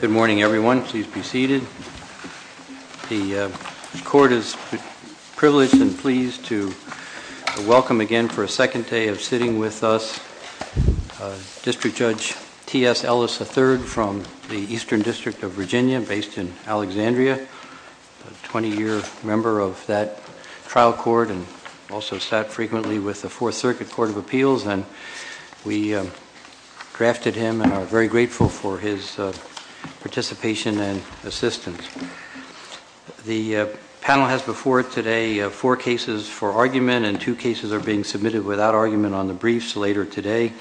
Good morning, everyone. Please be seated. The court is privileged and pleased to welcome again for a second day of sitting with us District Judge T.S. Ellis III from the Eastern District of Virginia, based in Alexandria, a 20-year member of that trial court, and also sat frequently with the Fourth Circuit Court of Appeals. And we drafted him and are very grateful for his participation and assistance. The panel has before it today four cases for argument, and two cases are being submitted without argument on the briefs later today.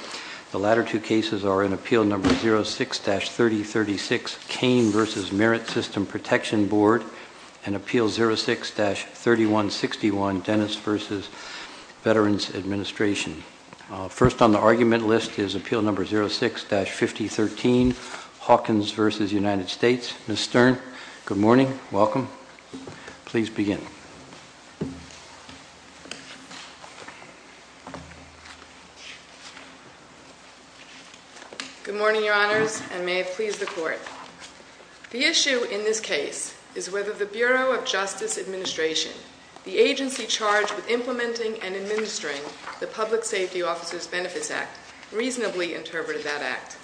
The latter two cases are in Appeal No. 06-3036, Kane v. Merit System Protection Board, and Appeal 06-3161, Dennis v. Veterans Administration. First on the argument list is Appeal No. 06-5013, Hawkins v. United States. Ms. Stern, good morning, welcome. Please begin. Good morning, Your Honors, and may it please the Court. The issue in this case is whether the Bureau of Justice Administration, the agency charged with implementing and administering the Public Safety Officers Benefits Act, reasonably interpreted that act.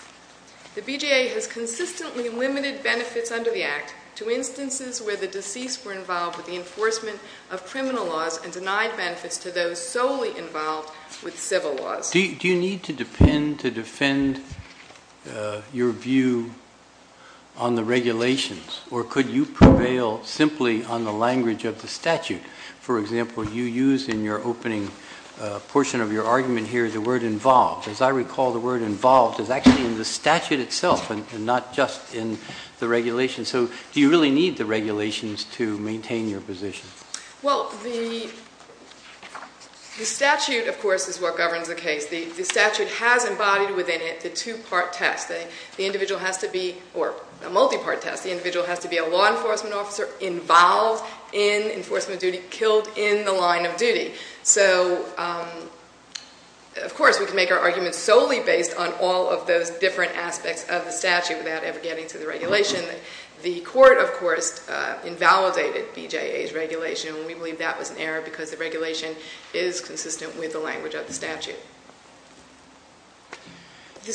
The BJA has consistently limited benefits under the act to instances where the deceased were involved with the enforcement of criminal laws and denied benefits to those solely involved with civil laws. Do you need to defend your view on the regulations, or could you prevail simply on the language of the statute? For example, you use in your opening portion of your argument here the word involved. As I recall, the word involved is actually in the statute itself and not just in the regulation. So do you really need the regulations to maintain your position? Well, the statute, of course, is what governs the case. The statute has embodied within it the two-part test. The individual has to be, or a multi-part test, the individual has to be a law enforcement officer involved in enforcement duty, killed in the line of duty. So, of course, we can make our arguments solely based on all of those different aspects of the statute without ever getting to the regulation. The court, of course, invalidated BJA's regulation, and we believe that was an error because the regulation is consistent with the language of the statute. Do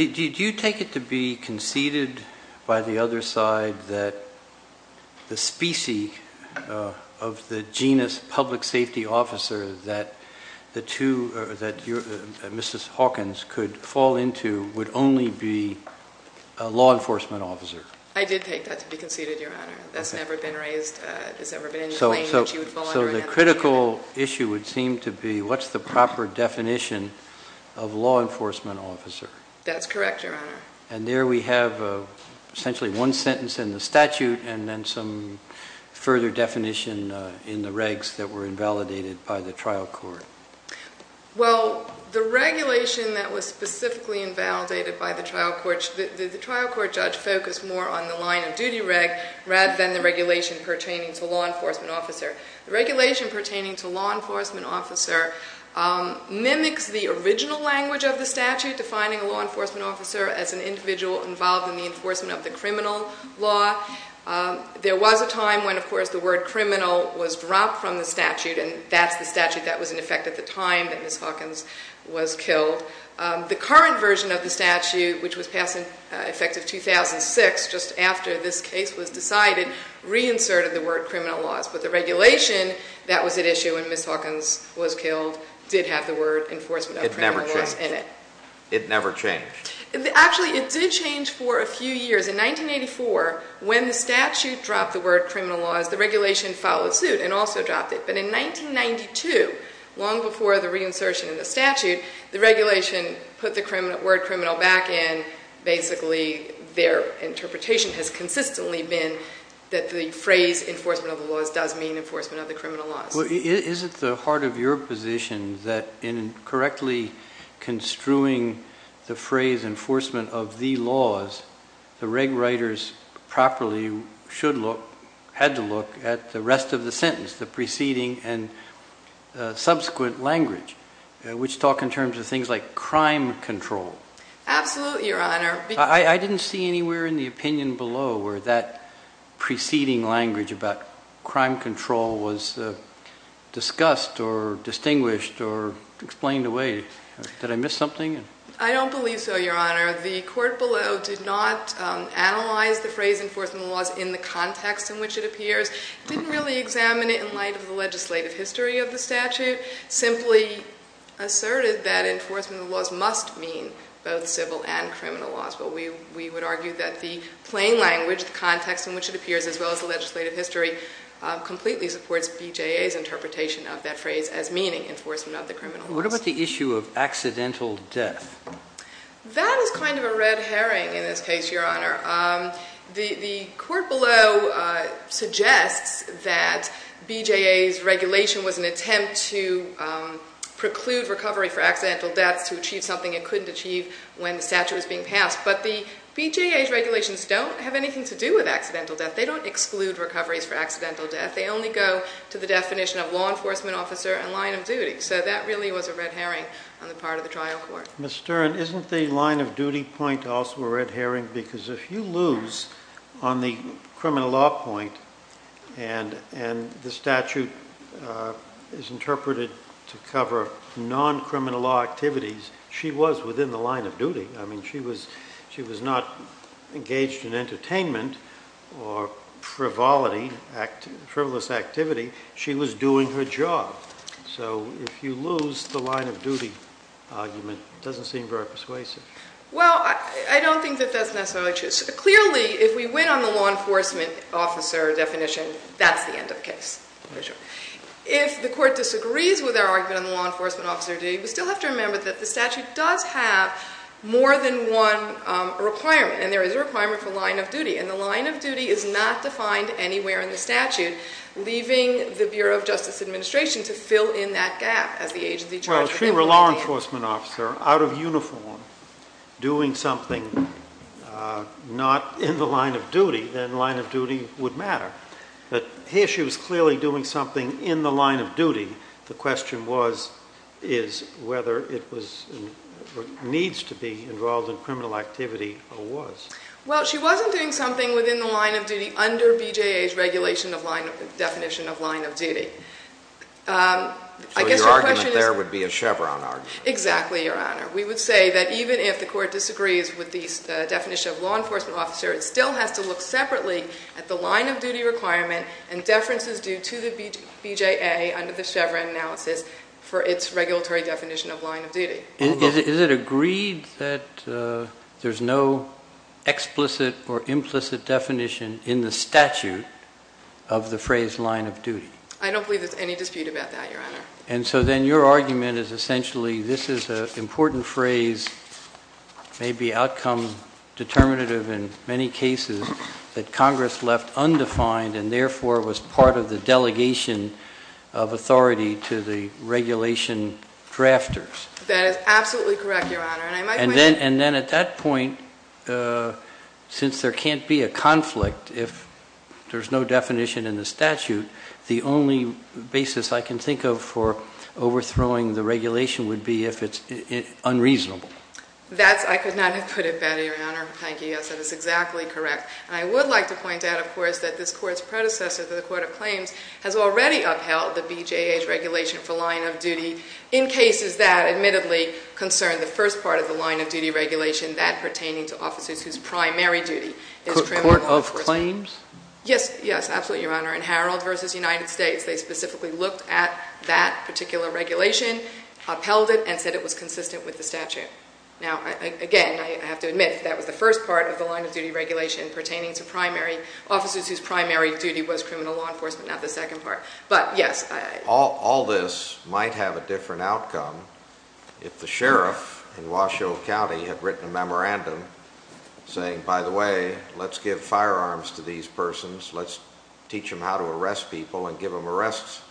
you take it to be conceded by the other side that the specie of the genus public safety officer that Mrs. Hawkins could fall into would only be a law enforcement officer? I did take that to be conceded, Your Honor. That's never been raised. It's never been in the claim that she would fall under an entity. So the critical issue would seem to be what's the proper definition of law enforcement officer? That's correct, Your Honor. And there we have essentially one sentence in the statute and then some further definition in the regs that were invalidated by the trial court. Well, the regulation that was specifically invalidated by the trial court, the trial court judge focused more on the line of duty reg rather than the regulation pertaining to law enforcement officer. The regulation pertaining to law enforcement officer mimics the original language of the statute defining a law enforcement officer as an individual involved in the enforcement of the criminal law. There was a time when, of course, the word criminal was dropped from the statute and that's the statute that was in effect at the time that Mrs. Hawkins was killed. The current version of the statute, which was passed in effect of 2006 just after this case was decided, reinserted the word criminal laws. But the regulation that was at issue when Mrs. Hawkins was killed did have the word enforcement of criminal laws in it. It never changed. It never changed. Actually, it did change for a few years. In 1984, when the statute dropped the word criminal laws, the regulation followed suit and also dropped it. But in 1992, long before the reinsertion of the statute, the regulation put the word criminal back in. Basically, their interpretation has consistently been that the phrase enforcement of the laws does mean enforcement of the criminal laws. Well, is it the heart of your position that in correctly construing the phrase enforcement of the laws, the reg writers properly should look, had to look, at the rest of the sentence, the preceding and subsequent language, which talk in terms of things like crime control? I didn't see anywhere in the opinion below where that preceding language about crime control was discussed or distinguished or explained away. Did I miss something? I don't believe so, Your Honor. Where the court below did not analyze the phrase enforcement of the laws in the context in which it appears, didn't really examine it in light of the legislative history of the statute, simply asserted that enforcement of the laws must mean both civil and criminal laws. But we would argue that the plain language, the context in which it appears, as well as the legislative history, completely supports BJA's interpretation of that phrase as meaning enforcement of the criminal laws. What about the issue of accidental death? That is kind of a red herring in this case, Your Honor. The court below suggests that BJA's regulation was an attempt to preclude recovery for accidental deaths, to achieve something it couldn't achieve when the statute was being passed. But the BJA's regulations don't have anything to do with accidental death. They don't exclude recoveries for accidental death. They only go to the definition of law enforcement officer and line of duty. So that really was a red herring on the part of the trial court. Ms. Stern, isn't the line of duty point also a red herring? Because if you lose on the criminal law point and the statute is interpreted to cover non-criminal law activities, she was within the line of duty. I mean, she was not engaged in entertainment or frivolity, frivolous activity. She was doing her job. So if you lose the line of duty argument, it doesn't seem very persuasive. Well, I don't think that that's necessarily true. Clearly, if we win on the law enforcement officer definition, that's the end of the case. If the court disagrees with our argument on the law enforcement officer, we still have to remember that the statute does have more than one requirement. And the line of duty is not defined anywhere in the statute, leaving the Bureau of Justice Administration to fill in that gap as the agency charges. Well, if she were a law enforcement officer, out of uniform, doing something not in the line of duty, then line of duty would matter. But here she was clearly doing something in the line of duty. The question was, is whether it needs to be involved in criminal activity or was. Well, she wasn't doing something within the line of duty under BJA's definition of line of duty. So your argument there would be a Chevron argument. Exactly, Your Honor. We would say that even if the court disagrees with the definition of law enforcement officer, it still has to look separately at the line of duty requirement and deferences due to the BJA under the Chevron analysis for its regulatory definition of line of duty. Is it agreed that there's no explicit or implicit definition in the statute of the phrase line of duty? I don't believe there's any dispute about that, Your Honor. And so then your argument is essentially this is an important phrase, maybe outcome determinative in many cases, that Congress left undefined and therefore was part of the delegation of authority to the regulation drafters. That is absolutely correct, Your Honor. And then at that point, since there can't be a conflict if there's no definition in the statute, the only basis I can think of for overthrowing the regulation would be if it's unreasonable. I could not have put it better, Your Honor. Thank you. Yes, that is exactly correct. And I would like to point out, of course, that this Court's predecessor to the Court of Claims has already upheld the BJA's regulation for line of duty in cases that admittedly concern the first part of the line of duty regulation, that pertaining to officers whose primary duty is criminal law enforcement. Court of Claims? Yes, yes, absolutely, Your Honor. In Harold v. United States, they specifically looked at that particular regulation, upheld it, and said it was consistent with the statute. Now, again, I have to admit that was the first part of the line of duty regulation pertaining to primary officers whose primary duty was criminal law enforcement, not the second part. But, yes. All this might have a different outcome if the sheriff in Washoe County had written a memorandum saying, by the way, let's give firearms to these persons, let's teach them how to arrest people and give them arrest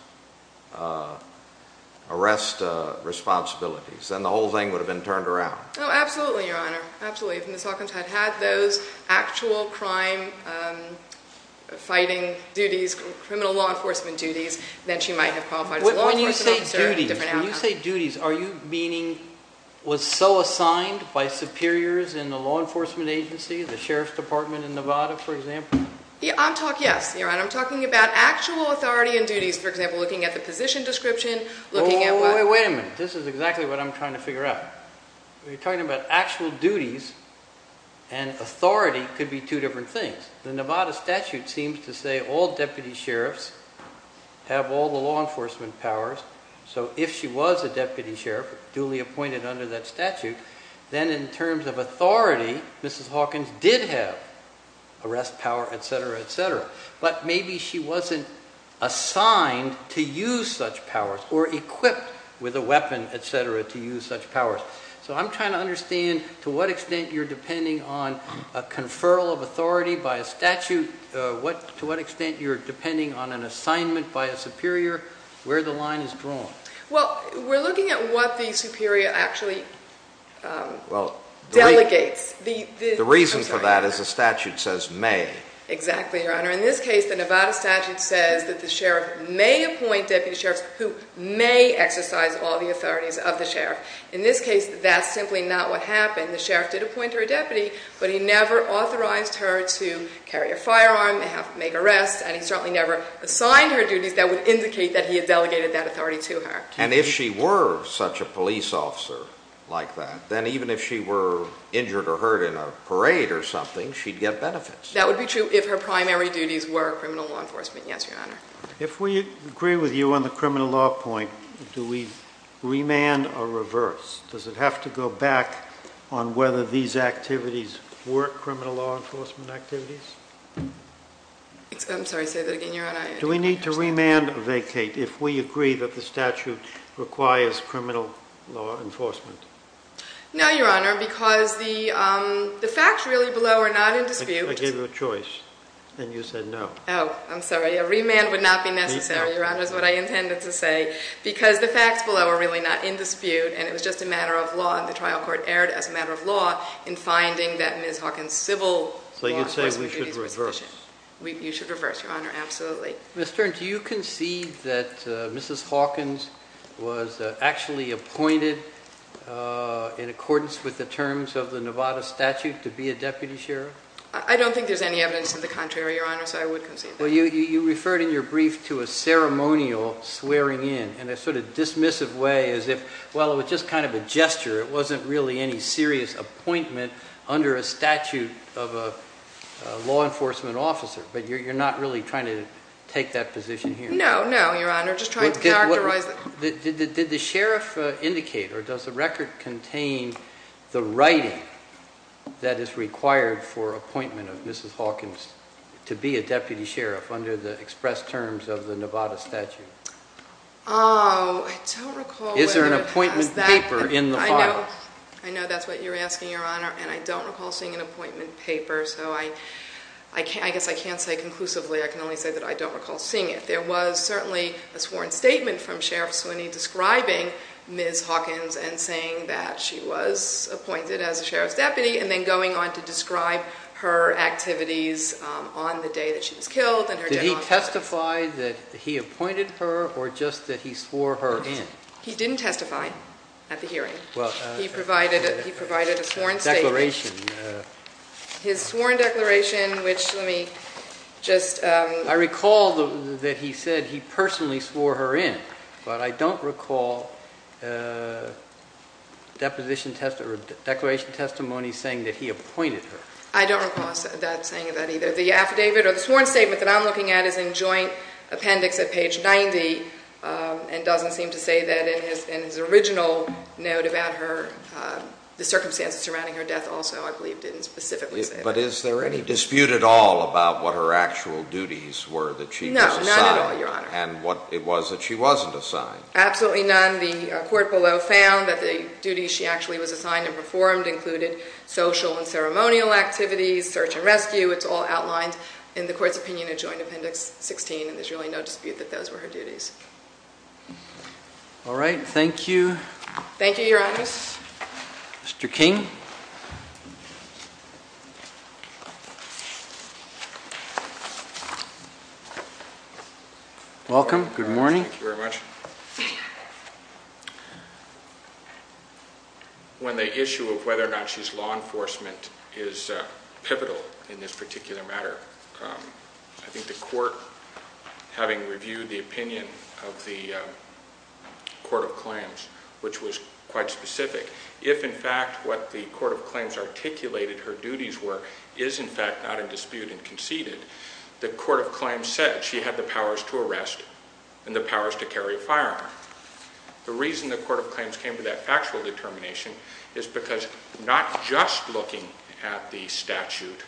responsibilities. Then the whole thing would have been turned around. Oh, absolutely, Your Honor, absolutely. If Ms. Hawkins had had those actual crime-fighting duties, criminal law enforcement duties, then she might have qualified as a law enforcement officer. When you say duties, are you meaning was so assigned by superiors in the law enforcement agency, the sheriff's department in Nevada, for example? I'm talking, yes, Your Honor. I'm talking about actual authority and duties, for example, looking at the position description, looking at what- Wait a minute. This is exactly what I'm trying to figure out. You're talking about actual duties and authority could be two different things. The Nevada statute seems to say all deputy sheriffs have all the law enforcement powers. So if she was a deputy sheriff, duly appointed under that statute, then in terms of authority, Mrs. Hawkins did have arrest power, et cetera, et cetera. But maybe she wasn't assigned to use such powers or equipped with a weapon, et cetera, to use such powers. So I'm trying to understand to what extent you're depending on a conferral of authority by a statute, to what extent you're depending on an assignment by a superior, where the line is drawn. Well, we're looking at what the superior actually delegates. The reason for that is the statute says may. Exactly, Your Honor. In this case, the Nevada statute says that the sheriff may appoint deputy sheriffs who may exercise all the authorities of the sheriff. In this case, that's simply not what happened. The sheriff did appoint her a deputy, but he never authorized her to carry a firearm, make arrests, and he certainly never assigned her duties that would indicate that he had delegated that authority to her. And if she were such a police officer like that, then even if she were injured or hurt in a parade or something, she'd get benefits. That would be true if her primary duties were criminal law enforcement, yes, Your Honor. If we agree with you on the criminal law point, do we remand or reverse? Does it have to go back on whether these activities were criminal law enforcement activities? I'm sorry, say that again, Your Honor. Do we need to remand or vacate if we agree that the statute requires criminal law enforcement? No, Your Honor, because the facts really below are not in dispute. I gave you a choice, and you said no. Oh, I'm sorry, a remand would not be necessary, Your Honor, is what I intended to say, because the facts below are really not in dispute, and it was just a matter of law, and the trial court erred as a matter of law in finding that Ms. Hawkins' civil law enforcement duties were sufficient. So you're saying we should reverse? You should reverse, Your Honor, absolutely. Ms. Stern, do you concede that Mrs. Hawkins was actually appointed in accordance with the terms of the Nevada statute to be a deputy sheriff? I don't think there's any evidence of the contrary, Your Honor, so I would concede that. Well, you referred in your brief to a ceremonial swearing in in a sort of dismissive way as if, well, it was just kind of a gesture. It wasn't really any serious appointment under a statute of a law enforcement officer, but you're not really trying to take that position here? No, no, Your Honor, just trying to characterize it. Did the sheriff indicate or does the record contain the writing that is required for appointment of Mrs. Hawkins to be a deputy sheriff under the express terms of the Nevada statute? Oh, I don't recall whether it has that. Is there an appointment paper in the file? I know that's what you're asking, Your Honor, and I don't recall seeing an appointment paper, so I guess I can't say conclusively. I can only say that I don't recall seeing it. I think there was certainly a sworn statement from Sheriff Sweeney describing Ms. Hawkins and saying that she was appointed as a sheriff's deputy and then going on to describe her activities on the day that she was killed and her death. Did he testify that he appointed her or just that he swore her in? He didn't testify at the hearing. He provided a sworn statement. Declaration. His sworn declaration, which let me just... I recall that he said he personally swore her in, but I don't recall deposition testimony or declaration testimony saying that he appointed her. I don't recall that saying that either. The affidavit or the sworn statement that I'm looking at is in joint appendix at page 90 and doesn't seem to say that in his original note about her, the circumstances surrounding her death also, I believe, didn't specifically say that. But is there any dispute at all about what her actual duties were that she was assigned? No, none at all, Your Honor. And what it was that she wasn't assigned? Absolutely none. The court below found that the duties she actually was assigned and performed included social and ceremonial activities, search and rescue. It's all outlined in the court's opinion in joint appendix 16, and there's really no dispute that those were her duties. All right. Thank you. Thank you, Your Honors. Mr. King. Mr. King. Welcome. Good morning. Thank you very much. When the issue of whether or not she's law enforcement is pivotal in this particular matter, I think the court, having reviewed the opinion of the court of claims, which was quite specific, if, in fact, what the court of claims articulated her duties were is, in fact, not in dispute and conceded, the court of claims said she had the powers to arrest and the powers to carry a firearm. The reason the court of claims came to that actual determination is because not just looking at the statute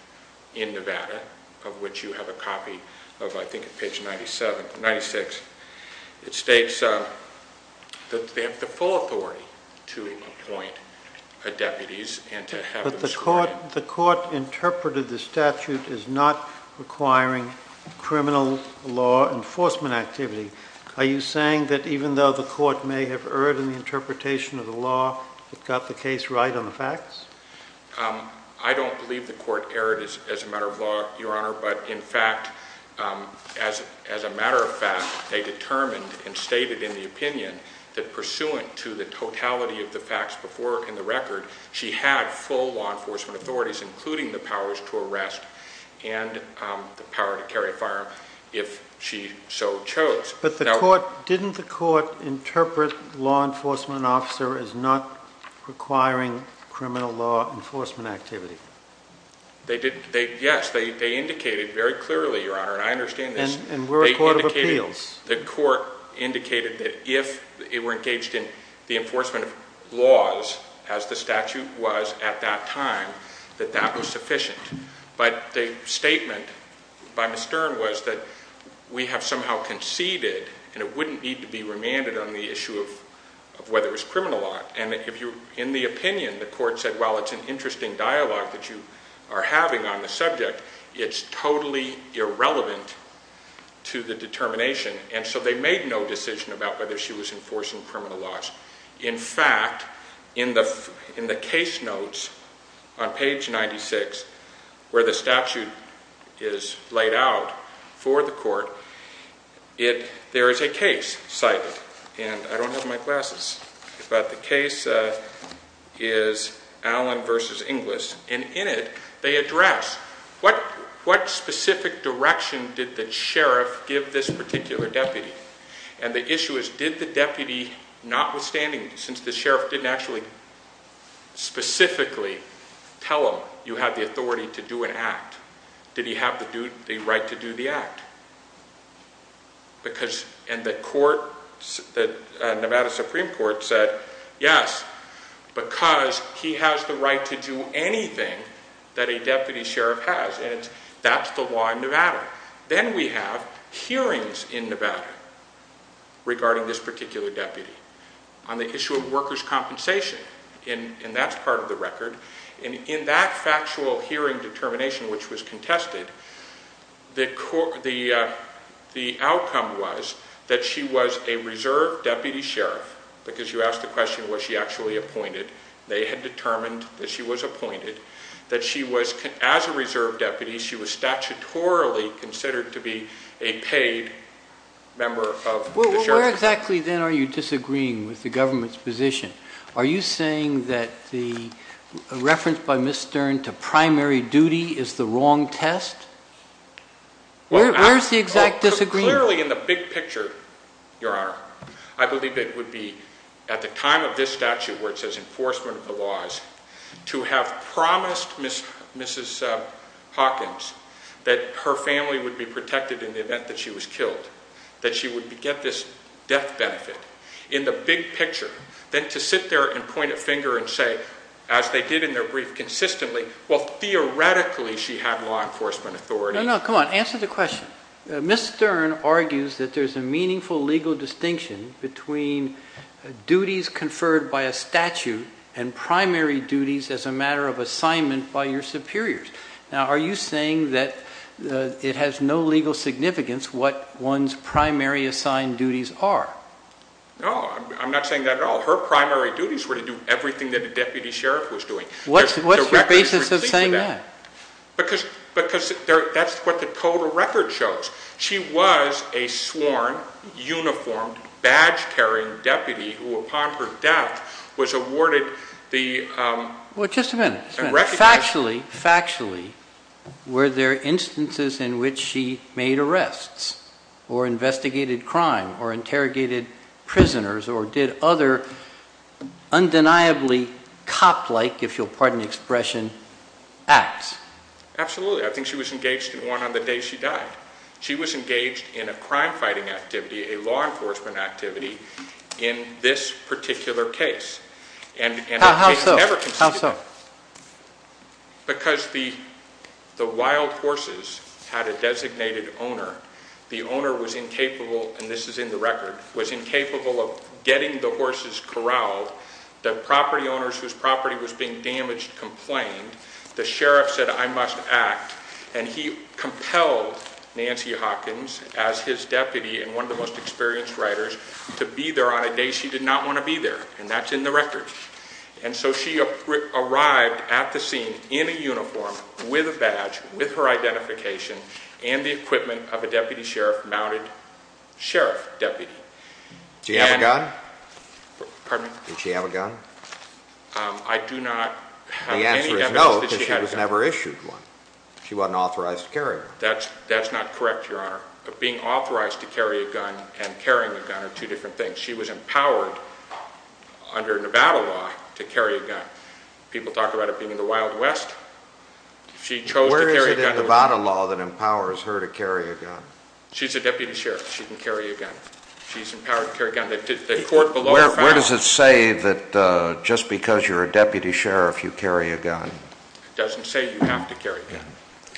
in Nevada, of which you have a copy of, I think, page 97, 96, it states that they have the full authority to appoint deputies and to have them serve. But the court interpreted the statute as not requiring criminal law enforcement activity. Are you saying that even though the court may have erred in the interpretation of the law, it got the case right on the facts? I don't believe the court erred as a matter of law, Your Honor, but, in fact, as a matter of fact, they determined and stated in the opinion that, pursuant to the totality of the facts before in the record, she had full law enforcement authorities, including the powers to arrest and the power to carry a firearm if she so chose. But didn't the court interpret law enforcement officer as not requiring criminal law enforcement activity? Yes, they indicated very clearly, Your Honor, and I understand this. And we're a court of appeals. The court indicated that if it were engaged in the enforcement of laws, as the statute was at that time, that that was sufficient. But the statement by Mr. Stern was that we have somehow conceded, and it wouldn't need to be remanded on the issue of whether it was criminal law. In the opinion, the court said, well, it's an interesting dialogue that you are having on the subject. It's totally irrelevant to the determination. And so they made no decision about whether she was enforcing criminal laws. In fact, in the case notes on page 96, where the statute is laid out for the court, there is a case cited, and I don't have my glasses, but the case is Allen v. Inglis. And in it, they address what specific direction did the sheriff give this particular deputy? And the issue is, did the deputy, notwithstanding, since the sheriff didn't actually specifically tell him, you have the authority to do an act, did he have the right to do the act? And the Nevada Supreme Court said, yes, because he has the right to do anything that a deputy sheriff has. And that's the law in Nevada. Then we have hearings in Nevada regarding this particular deputy on the issue of workers' compensation. And that's part of the record. And in that factual hearing determination, which was contested, the outcome was that she was a reserve deputy sheriff, because you asked the question, was she actually appointed? They had determined that she was appointed, that she was, as a reserve deputy, she was statutorily considered to be a paid member of the sheriff's department. Where exactly, then, are you disagreeing with the government's position? Are you saying that the reference by Ms. Stern to primary duty is the wrong test? Where is the exact disagreement? Clearly, in the big picture, Your Honor, I believe it would be at the time of this statute, where it says enforcement of the laws, to have promised Mrs. Hawkins that her family would be protected in the event that she was killed, that she would get this death benefit. In the big picture, then to sit there and point a finger and say, as they did in their brief consistently, well, theoretically she had law enforcement authority. No, no, come on, answer the question. Ms. Stern argues that there's a meaningful legal distinction between duties conferred by a statute and primary duties as a matter of assignment by your superiors. Now, are you saying that it has no legal significance what one's primary assigned duties are? No, I'm not saying that at all. Her primary duties were to do everything that a deputy sheriff was doing. What's your basis of saying that? Because that's what the total record shows. She was a sworn, uniformed, badge-carrying deputy who, upon her death, was awarded the recognition Factually, factually, were there instances in which she made arrests or investigated crime or interrogated prisoners or did other undeniably cop-like, if you'll pardon the expression, acts? Absolutely. I think she was engaged in one on the day she died. She was engaged in a crime-fighting activity, a law enforcement activity, in this particular case. How so? Because the wild horses had a designated owner. The owner was incapable, and this is in the record, was incapable of getting the horses corralled. The property owners whose property was being damaged complained. The sheriff said, I must act. And he compelled Nancy Hawkins, as his deputy and one of the most experienced riders, to be there on a day she did not want to be there, and that's in the record. And so she arrived at the scene in a uniform, with a badge, with her identification, and the equipment of a deputy sheriff mounted sheriff deputy. Did she have a gun? Pardon me? Did she have a gun? I do not have any evidence that she had a gun. The answer is no, because she was never issued one. She wasn't authorized to carry one. That's not correct, Your Honor. Being authorized to carry a gun and carrying a gun are two different things. She was empowered under Nevada law to carry a gun. People talk about it being in the Wild West. She chose to carry a gun. Where is it in Nevada law that empowers her to carry a gun? She's a deputy sheriff. She can carry a gun. She's empowered to carry a gun. The court below the foul. Where does it say that just because you're a deputy sheriff you carry a gun? It doesn't say you have to carry a gun.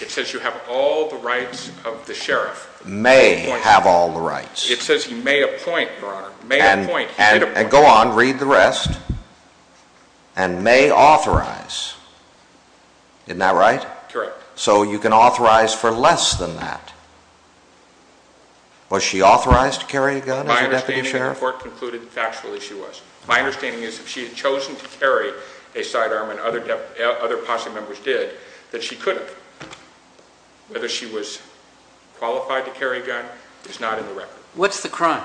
It says you have all the rights of the sheriff. May have all the rights. It says he may appoint, Your Honor. May appoint. And go on, read the rest. And may authorize. Isn't that right? Correct. So you can authorize for less than that. Was she authorized to carry a gun as a deputy sheriff? My understanding is the court concluded factually she was. My understanding is if she had chosen to carry a sidearm, and other posse members did, that she could have. Whether she was qualified to carry a gun is not in the record. What's the crime?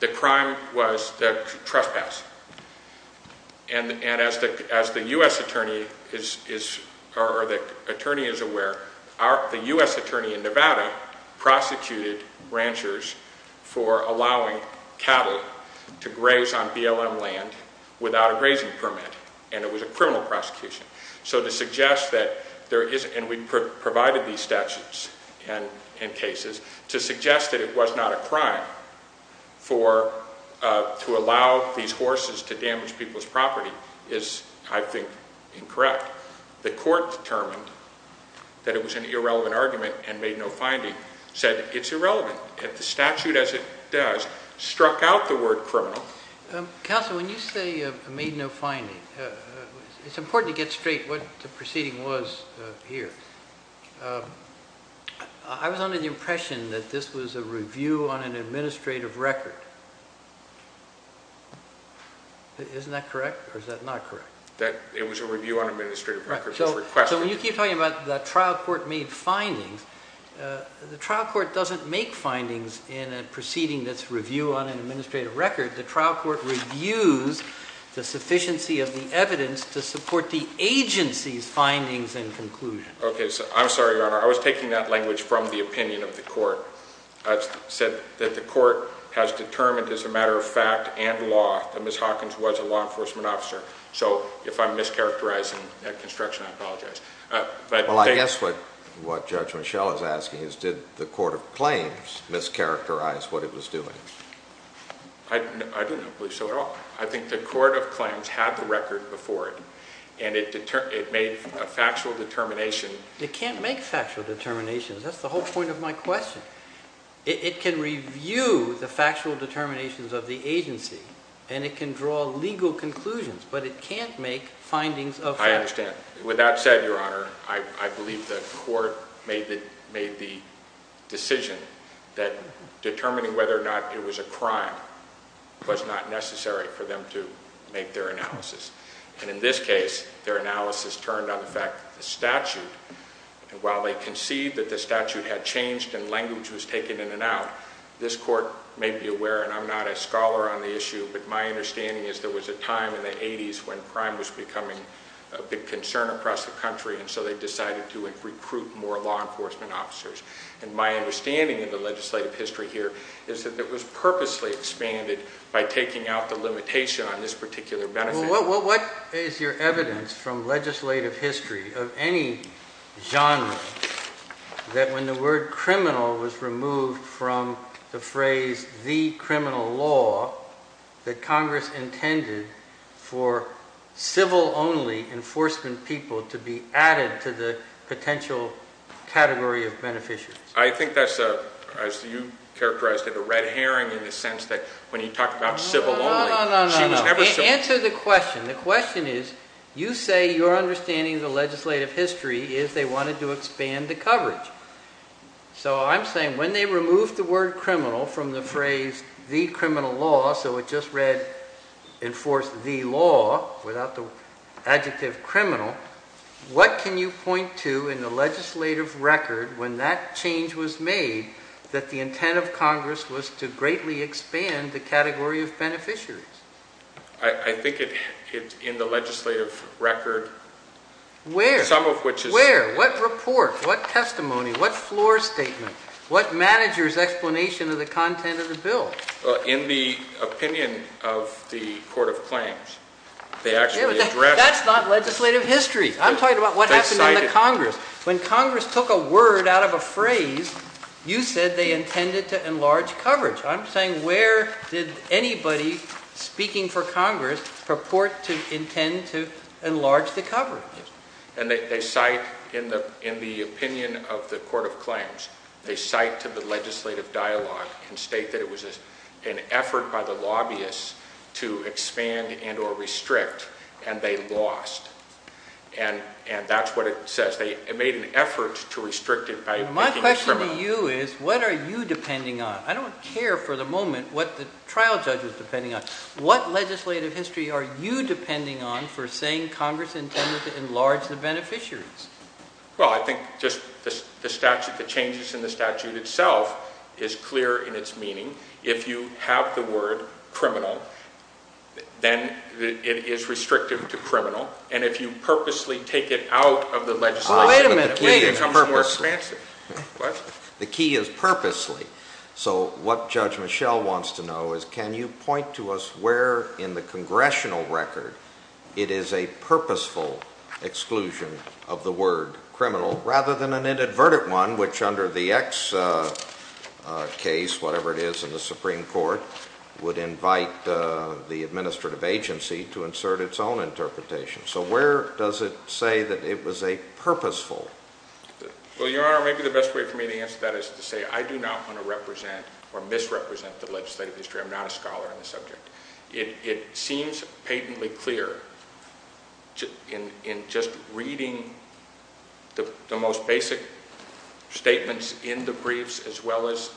The crime was the trespass. And as the U.S. attorney is aware, the U.S. attorney in Nevada prosecuted ranchers for allowing cattle to graze on BLM land without a grazing permit. And it was a criminal prosecution. So to suggest that there isn't, and we provided these statutes and cases, to suggest that it was not a crime to allow these horses to damage people's property is, I think, incorrect. The court determined that it was an irrelevant argument and made no finding. Said it's irrelevant. If the statute as it does struck out the word criminal. Counsel, when you say made no finding, it's important to get straight what the proceeding was here. I was under the impression that this was a review on an administrative record. Isn't that correct? Or is that not correct? It was a review on an administrative record. So when you keep talking about the trial court made findings, the trial court doesn't make findings in a proceeding that's review on an administrative record. The trial court reviews the sufficiency of the evidence to support the agency's findings and conclusions. Okay. I'm sorry, Your Honor. I was taking that language from the opinion of the court. I said that the court has determined as a matter of fact and law that Ms. Hawkins was a law enforcement officer. So if I'm mischaracterizing that construction, I apologize. Well, I guess what Judge Mischel is asking is did the court of claims mischaracterize what it was doing? I don't believe so at all. I think the court of claims had the record before it, and it made a factual determination. It can't make factual determinations. That's the whole point of my question. It can review the factual determinations of the agency, and it can draw legal conclusions, but it can't make findings of fact. I understand. With that said, Your Honor, I believe the court made the decision that determining whether or not it was a crime was not necessary for them to make their analysis. And in this case, their analysis turned on the fact that the statute, while they conceived that the statute had changed and language was taken in and out, this court may be aware, and I'm not a scholar on the issue, but my understanding is there was a time in the 80s when crime was becoming a big concern across the country, and so they decided to recruit more law enforcement officers. And my understanding in the legislative history here is that it was purposely expanded by taking out the limitation on this particular benefit. What is your evidence from legislative history of any genre that when the word criminal was removed from the phrase the criminal law, that Congress intended for civil-only enforcement people to be added to the potential category of beneficiaries? I think that's a, as you characterized it, a red herring in the sense that when you talk about civil-only, she was never civil- Answer the question. The question is, you say your understanding of the legislative history is they wanted to expand the coverage. So I'm saying when they removed the word criminal from the phrase the criminal law, so it just read enforce the law without the adjective criminal, what can you point to in the legislative record when that change was made that the intent of Congress was to greatly expand the category of beneficiaries? I think it's in the legislative record. Where? Some of which is- Where? What report? What testimony? What floor statement? What manager's explanation of the content of the bill? In the opinion of the Court of Claims, they actually addressed- That's not legislative history. I'm talking about what happened in the Congress. When Congress took a word out of a phrase, you said they intended to enlarge coverage. I'm saying where did anybody speaking for Congress purport to intend to enlarge the coverage? And they cite in the opinion of the Court of Claims, they cite to the legislative dialogue and state that it was an effort by the lobbyists to expand and or restrict, and they lost. And that's what it says. They made an effort to restrict it by making it criminal. The question for you is what are you depending on? I don't care for the moment what the trial judge was depending on. What legislative history are you depending on for saying Congress intended to enlarge the beneficiaries? Well, I think just the statute, the changes in the statute itself is clear in its meaning. If you have the word criminal, then it is restrictive to criminal. And if you purposely take it out of the legislation- Wait a minute. Wait a minute. The key is purposely. What? The key is purposely. So what Judge Michel wants to know is can you point to us where in the congressional record it is a purposeful exclusion of the word criminal rather than an inadvertent one, which under the X case, whatever it is in the Supreme Court, would invite the administrative agency to insert its own interpretation. So where does it say that it was a purposeful- Well, Your Honor, maybe the best way for me to answer that is to say I do not want to represent or misrepresent the legislative history. I'm not a scholar in the subject. It seems patently clear in just reading the most basic statements in the briefs as well as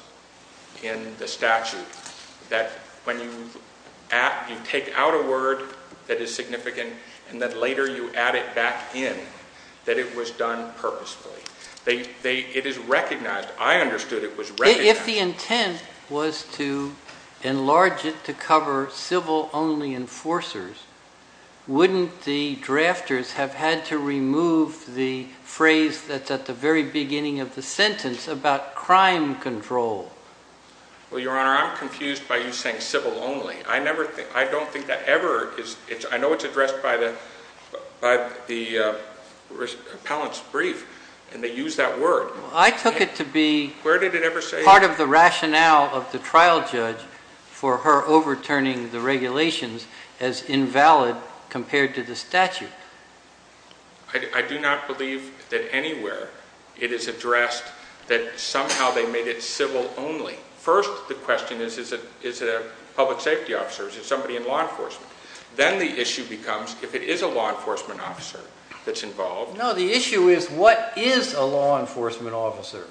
in the statute that when you take out a word that is significant and then later you add it back in that it was done purposefully. It is recognized. I understood it was recognized. If the intent was to enlarge it to cover civil only enforcers, wouldn't the drafters have had to remove the phrase that's at the very beginning of the sentence about crime control? Well, Your Honor, I'm confused by you saying civil only. I don't think that ever is- I know it's addressed by the appellant's brief and they use that word. I took it to be- Where did it ever say- Part of the rationale of the trial judge for her overturning the regulations as invalid compared to the statute. I do not believe that anywhere it is addressed that somehow they made it civil only. First, the question is, is it a public safety officer? Is it somebody in law enforcement? Then the issue becomes if it is a law enforcement officer that's involved- No, the issue is what is a law enforcement officer?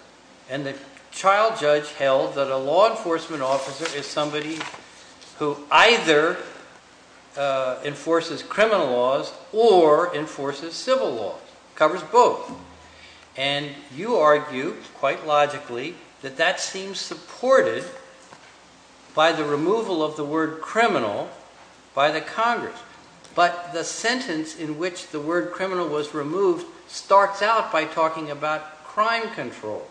And the trial judge held that a law enforcement officer is somebody who either enforces criminal laws or enforces civil laws. It covers both. And you argue, quite logically, that that seems supported by the removal of the word criminal by the Congress. But the sentence in which the word criminal was removed starts out by talking about crime control.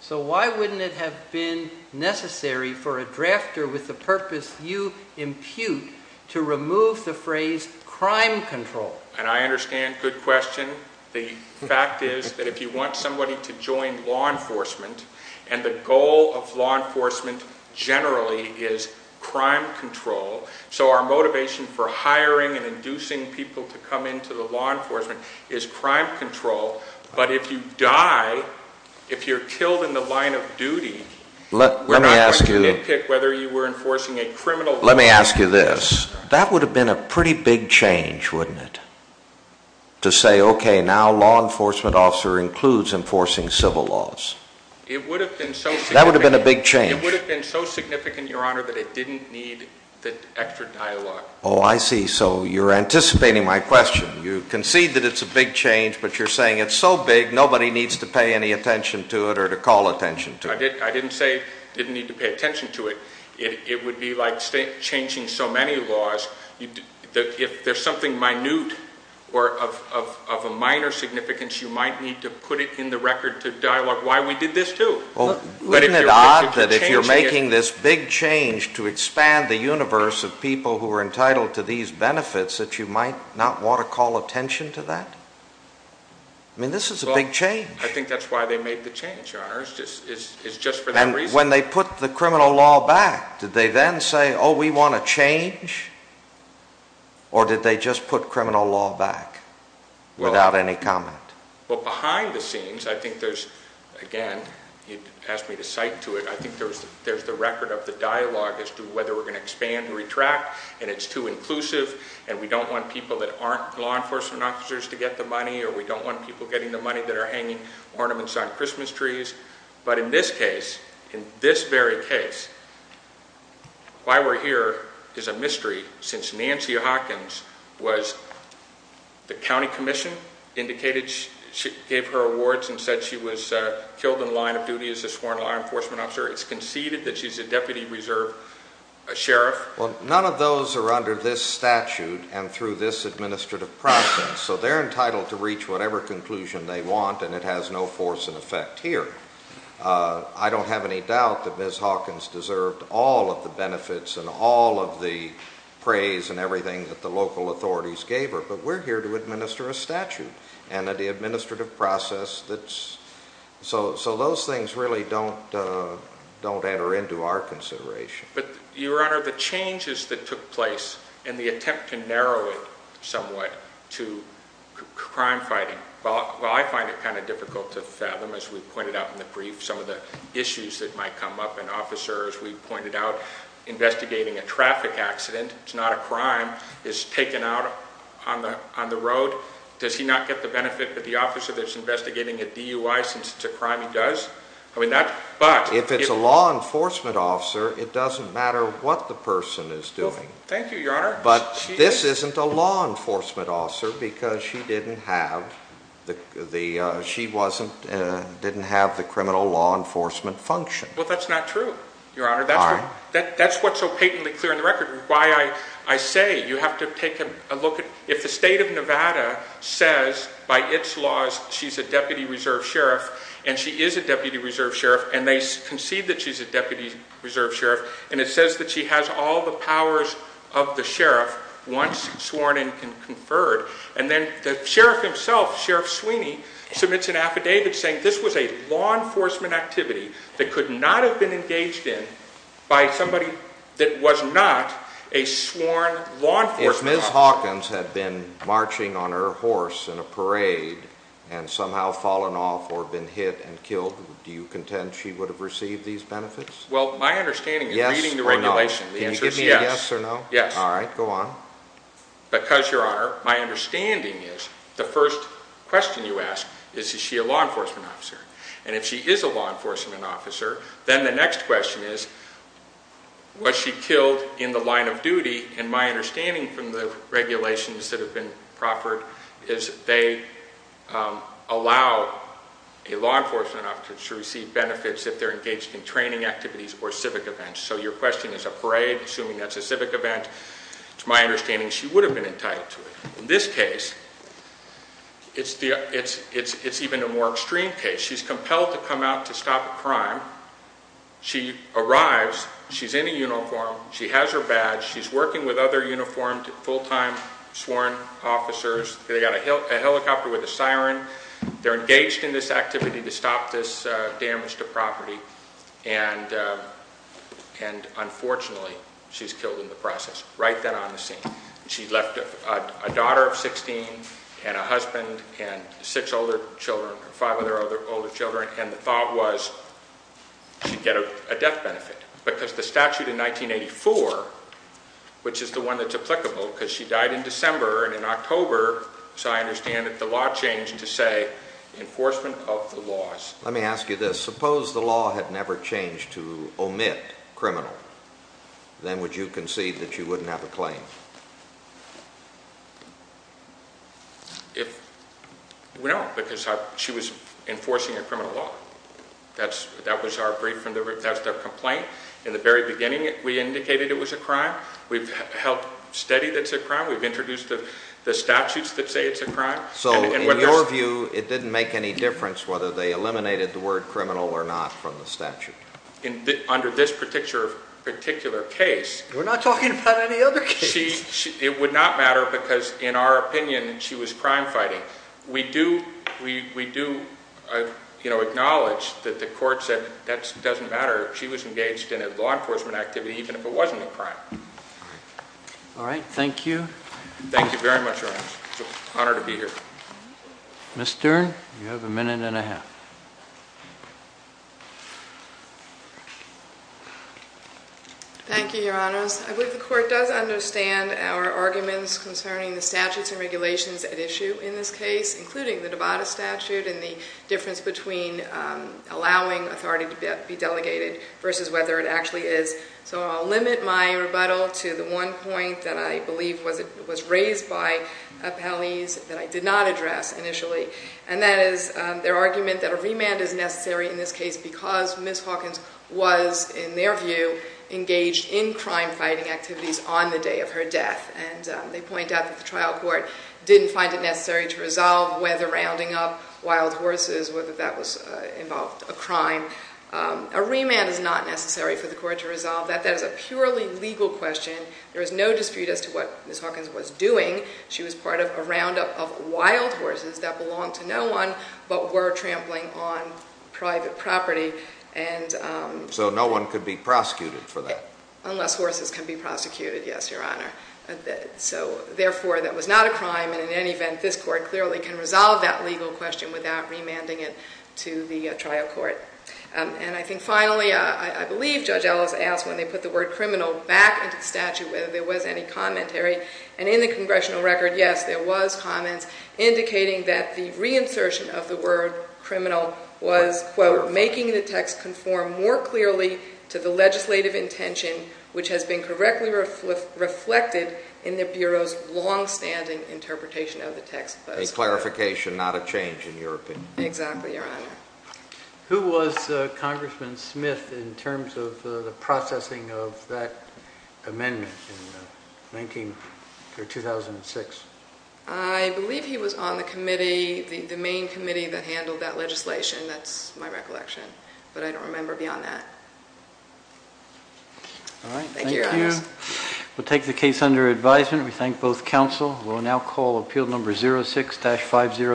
So why wouldn't it have been necessary for a drafter with the purpose you impute to remove the phrase crime control? And I understand. Good question. The fact is that if you want somebody to join law enforcement and the goal of law enforcement generally is crime control, so our motivation for hiring and inducing people to come into the law enforcement is crime control. But if you die, if you're killed in the line of duty- Let me ask you- Whether you were enforcing a criminal- Let me ask you this. That would have been a pretty big change, wouldn't it? To say, okay, now law enforcement officer includes enforcing civil laws. It would have been so- That would have been a big change. It would have been so significant, Your Honor, that it didn't need the extra dialogue. Oh, I see. So you're anticipating my question. You concede that it's a big change, but you're saying it's so big nobody needs to pay any attention to it or to call attention to it. I didn't say didn't need to pay attention to it. It would be like changing so many laws. If there's something minute or of a minor significance, you might need to put it in the record to dialogue why we did this too. Well, isn't it odd that if you're making this big change to expand the universe of people who are entitled to these benefits that you might not want to call attention to that? I mean, this is a big change. I think that's why they made the change, Your Honor. It's just for that reason. And when they put the criminal law back, did they then say, oh, we want a change? Or did they just put criminal law back without any comment? But behind the scenes, I think there's, again, you asked me to cite to it, I think there's the record of the dialogue as to whether we're going to expand and retract and it's too inclusive and we don't want people that aren't law enforcement officers to get the money or we don't want people getting the money that are hanging ornaments on Christmas trees. But in this case, in this very case, why we're here is a mystery since Nancy Hawkins was the county commission, indicated she gave her awards and said she was killed in the line of duty as a sworn law enforcement officer. It's conceded that she's a deputy reserve sheriff. Well, none of those are under this statute and through this administrative process. So they're entitled to reach whatever conclusion they want and it has no force in effect here. I don't have any doubt that Ms. Hawkins deserved all of the benefits and all of the praise and everything that the local authorities gave her. But we're here to administer a statute and the administrative process. So those things really don't enter into our consideration. But your honor, the changes that took place and the attempt to narrow it somewhat to crime fighting. Well, I find it kind of difficult to fathom, as we pointed out in the brief, some of the issues that might come up. And officer, as we pointed out, investigating a traffic accident, it's not a crime, is taken out on the road. Does he not get the benefit that the officer that's investigating a DUI since it's a crime he does? If it's a law enforcement officer, it doesn't matter what the person is doing. Thank you, your honor. But this isn't a law enforcement officer because she didn't have the criminal law enforcement function. Well, that's not true, your honor. That's what's so patently clear in the record. I say you have to take a look at if the state of Nevada says by its laws she's a deputy reserve sheriff and she is a deputy reserve sheriff and they concede that she's a deputy reserve sheriff and it says that she has all the powers of the sheriff once sworn and conferred. And then the sheriff himself, Sheriff Sweeney, submits an affidavit saying this was a law enforcement activity that could not have been engaged in by somebody that was not a sworn law enforcement officer. If Ms. Hawkins had been marching on her horse in a parade and somehow fallen off or been hit and killed, do you contend she would have received these benefits? Well, my understanding is reading the regulation, the answer is yes. Can you give me a yes or no? Yes. All right, go on. Because, your honor, my understanding is the first question you ask is is she a law enforcement officer? And if she is a law enforcement officer, then the next question is was she killed in the line of duty? And my understanding from the regulations that have been proffered is they allow a law enforcement officer to receive benefits if they're engaged in training activities or civic events. So your question is a parade, assuming that's a civic event. It's my understanding she would have been entitled to it. In this case, it's even a more extreme case. She's compelled to come out to stop a crime. She arrives. She's in a uniform. She has her badge. She's working with other uniformed full-time sworn officers. They've got a helicopter with a siren. They're engaged in this activity to stop this damage to property. And, unfortunately, she's killed in the process, right then on the scene. She left a daughter of 16 and a husband and six older children, five other older children, and the thought was she'd get a death benefit because the statute in 1984, which is the one that's applicable because she died in December and in October, so I understand that the law changed to say enforcement of the laws. Let me ask you this. Suppose the law had never changed to omit criminal. Then would you concede that you wouldn't have a claim? No, because she was enforcing a criminal law. That was our brief and that's their complaint. In the very beginning, we indicated it was a crime. We've helped study that it's a crime. We've introduced the statutes that say it's a crime. So, in your view, it didn't make any difference whether they eliminated the word criminal or not from the statute? Under this particular case. We're not talking about any other case. It would not matter because, in our opinion, she was crime fighting. We do acknowledge that the court said that doesn't matter. She was engaged in a law enforcement activity even if it wasn't a crime. Thank you. Thank you very much, Your Honor. It's an honor to be here. Ms. Stern, you have a minute and a half. Thank you, Your Honors. I believe the court does understand our arguments concerning the statutes and regulations at issue in this case, including the Nevada statute and the difference between allowing authority to be delegated versus whether it actually is. So, I'll limit my rebuttal to the one point that I believe was raised by appellees that I did not address initially. And that is their argument that a remand is necessary in this case because Ms. Hawkins was, in their view, engaged in crime fighting activities on the day of her death. And they point out that the trial court didn't find it necessary to resolve whether rounding up wild horses, whether that involved a crime. A remand is not necessary for the court to resolve that. That is a purely legal question. There is no dispute as to what Ms. Hawkins was doing. She was part of a roundup of wild horses that belonged to no one but were trampling on private property. So, no one could be prosecuted for that? Unless horses can be prosecuted, yes, Your Honor. So, therefore, that was not a crime. And in any event, this court clearly can resolve that legal question without remanding it to the trial court. And I think finally, I believe Judge Ellis asked when they put the word criminal back into the statute whether there was any commentary. And in the congressional record, yes, there was comments indicating that the reinsertion of the word criminal was, quote, making the text conform more clearly to the legislative intention which has been correctly reflected in the Bureau's longstanding interpretation of the text. A clarification, not a change in your opinion. Exactly, Your Honor. Who was Congressman Smith in terms of the processing of that amendment in 2006? I believe he was on the committee, the main committee that handled that legislation. That's my recollection. But I don't remember beyond that. All right, thank you. Thank you, Your Honor. We'll take the case under advisement. We thank both counsel. We'll now call Appeal Number 06-503.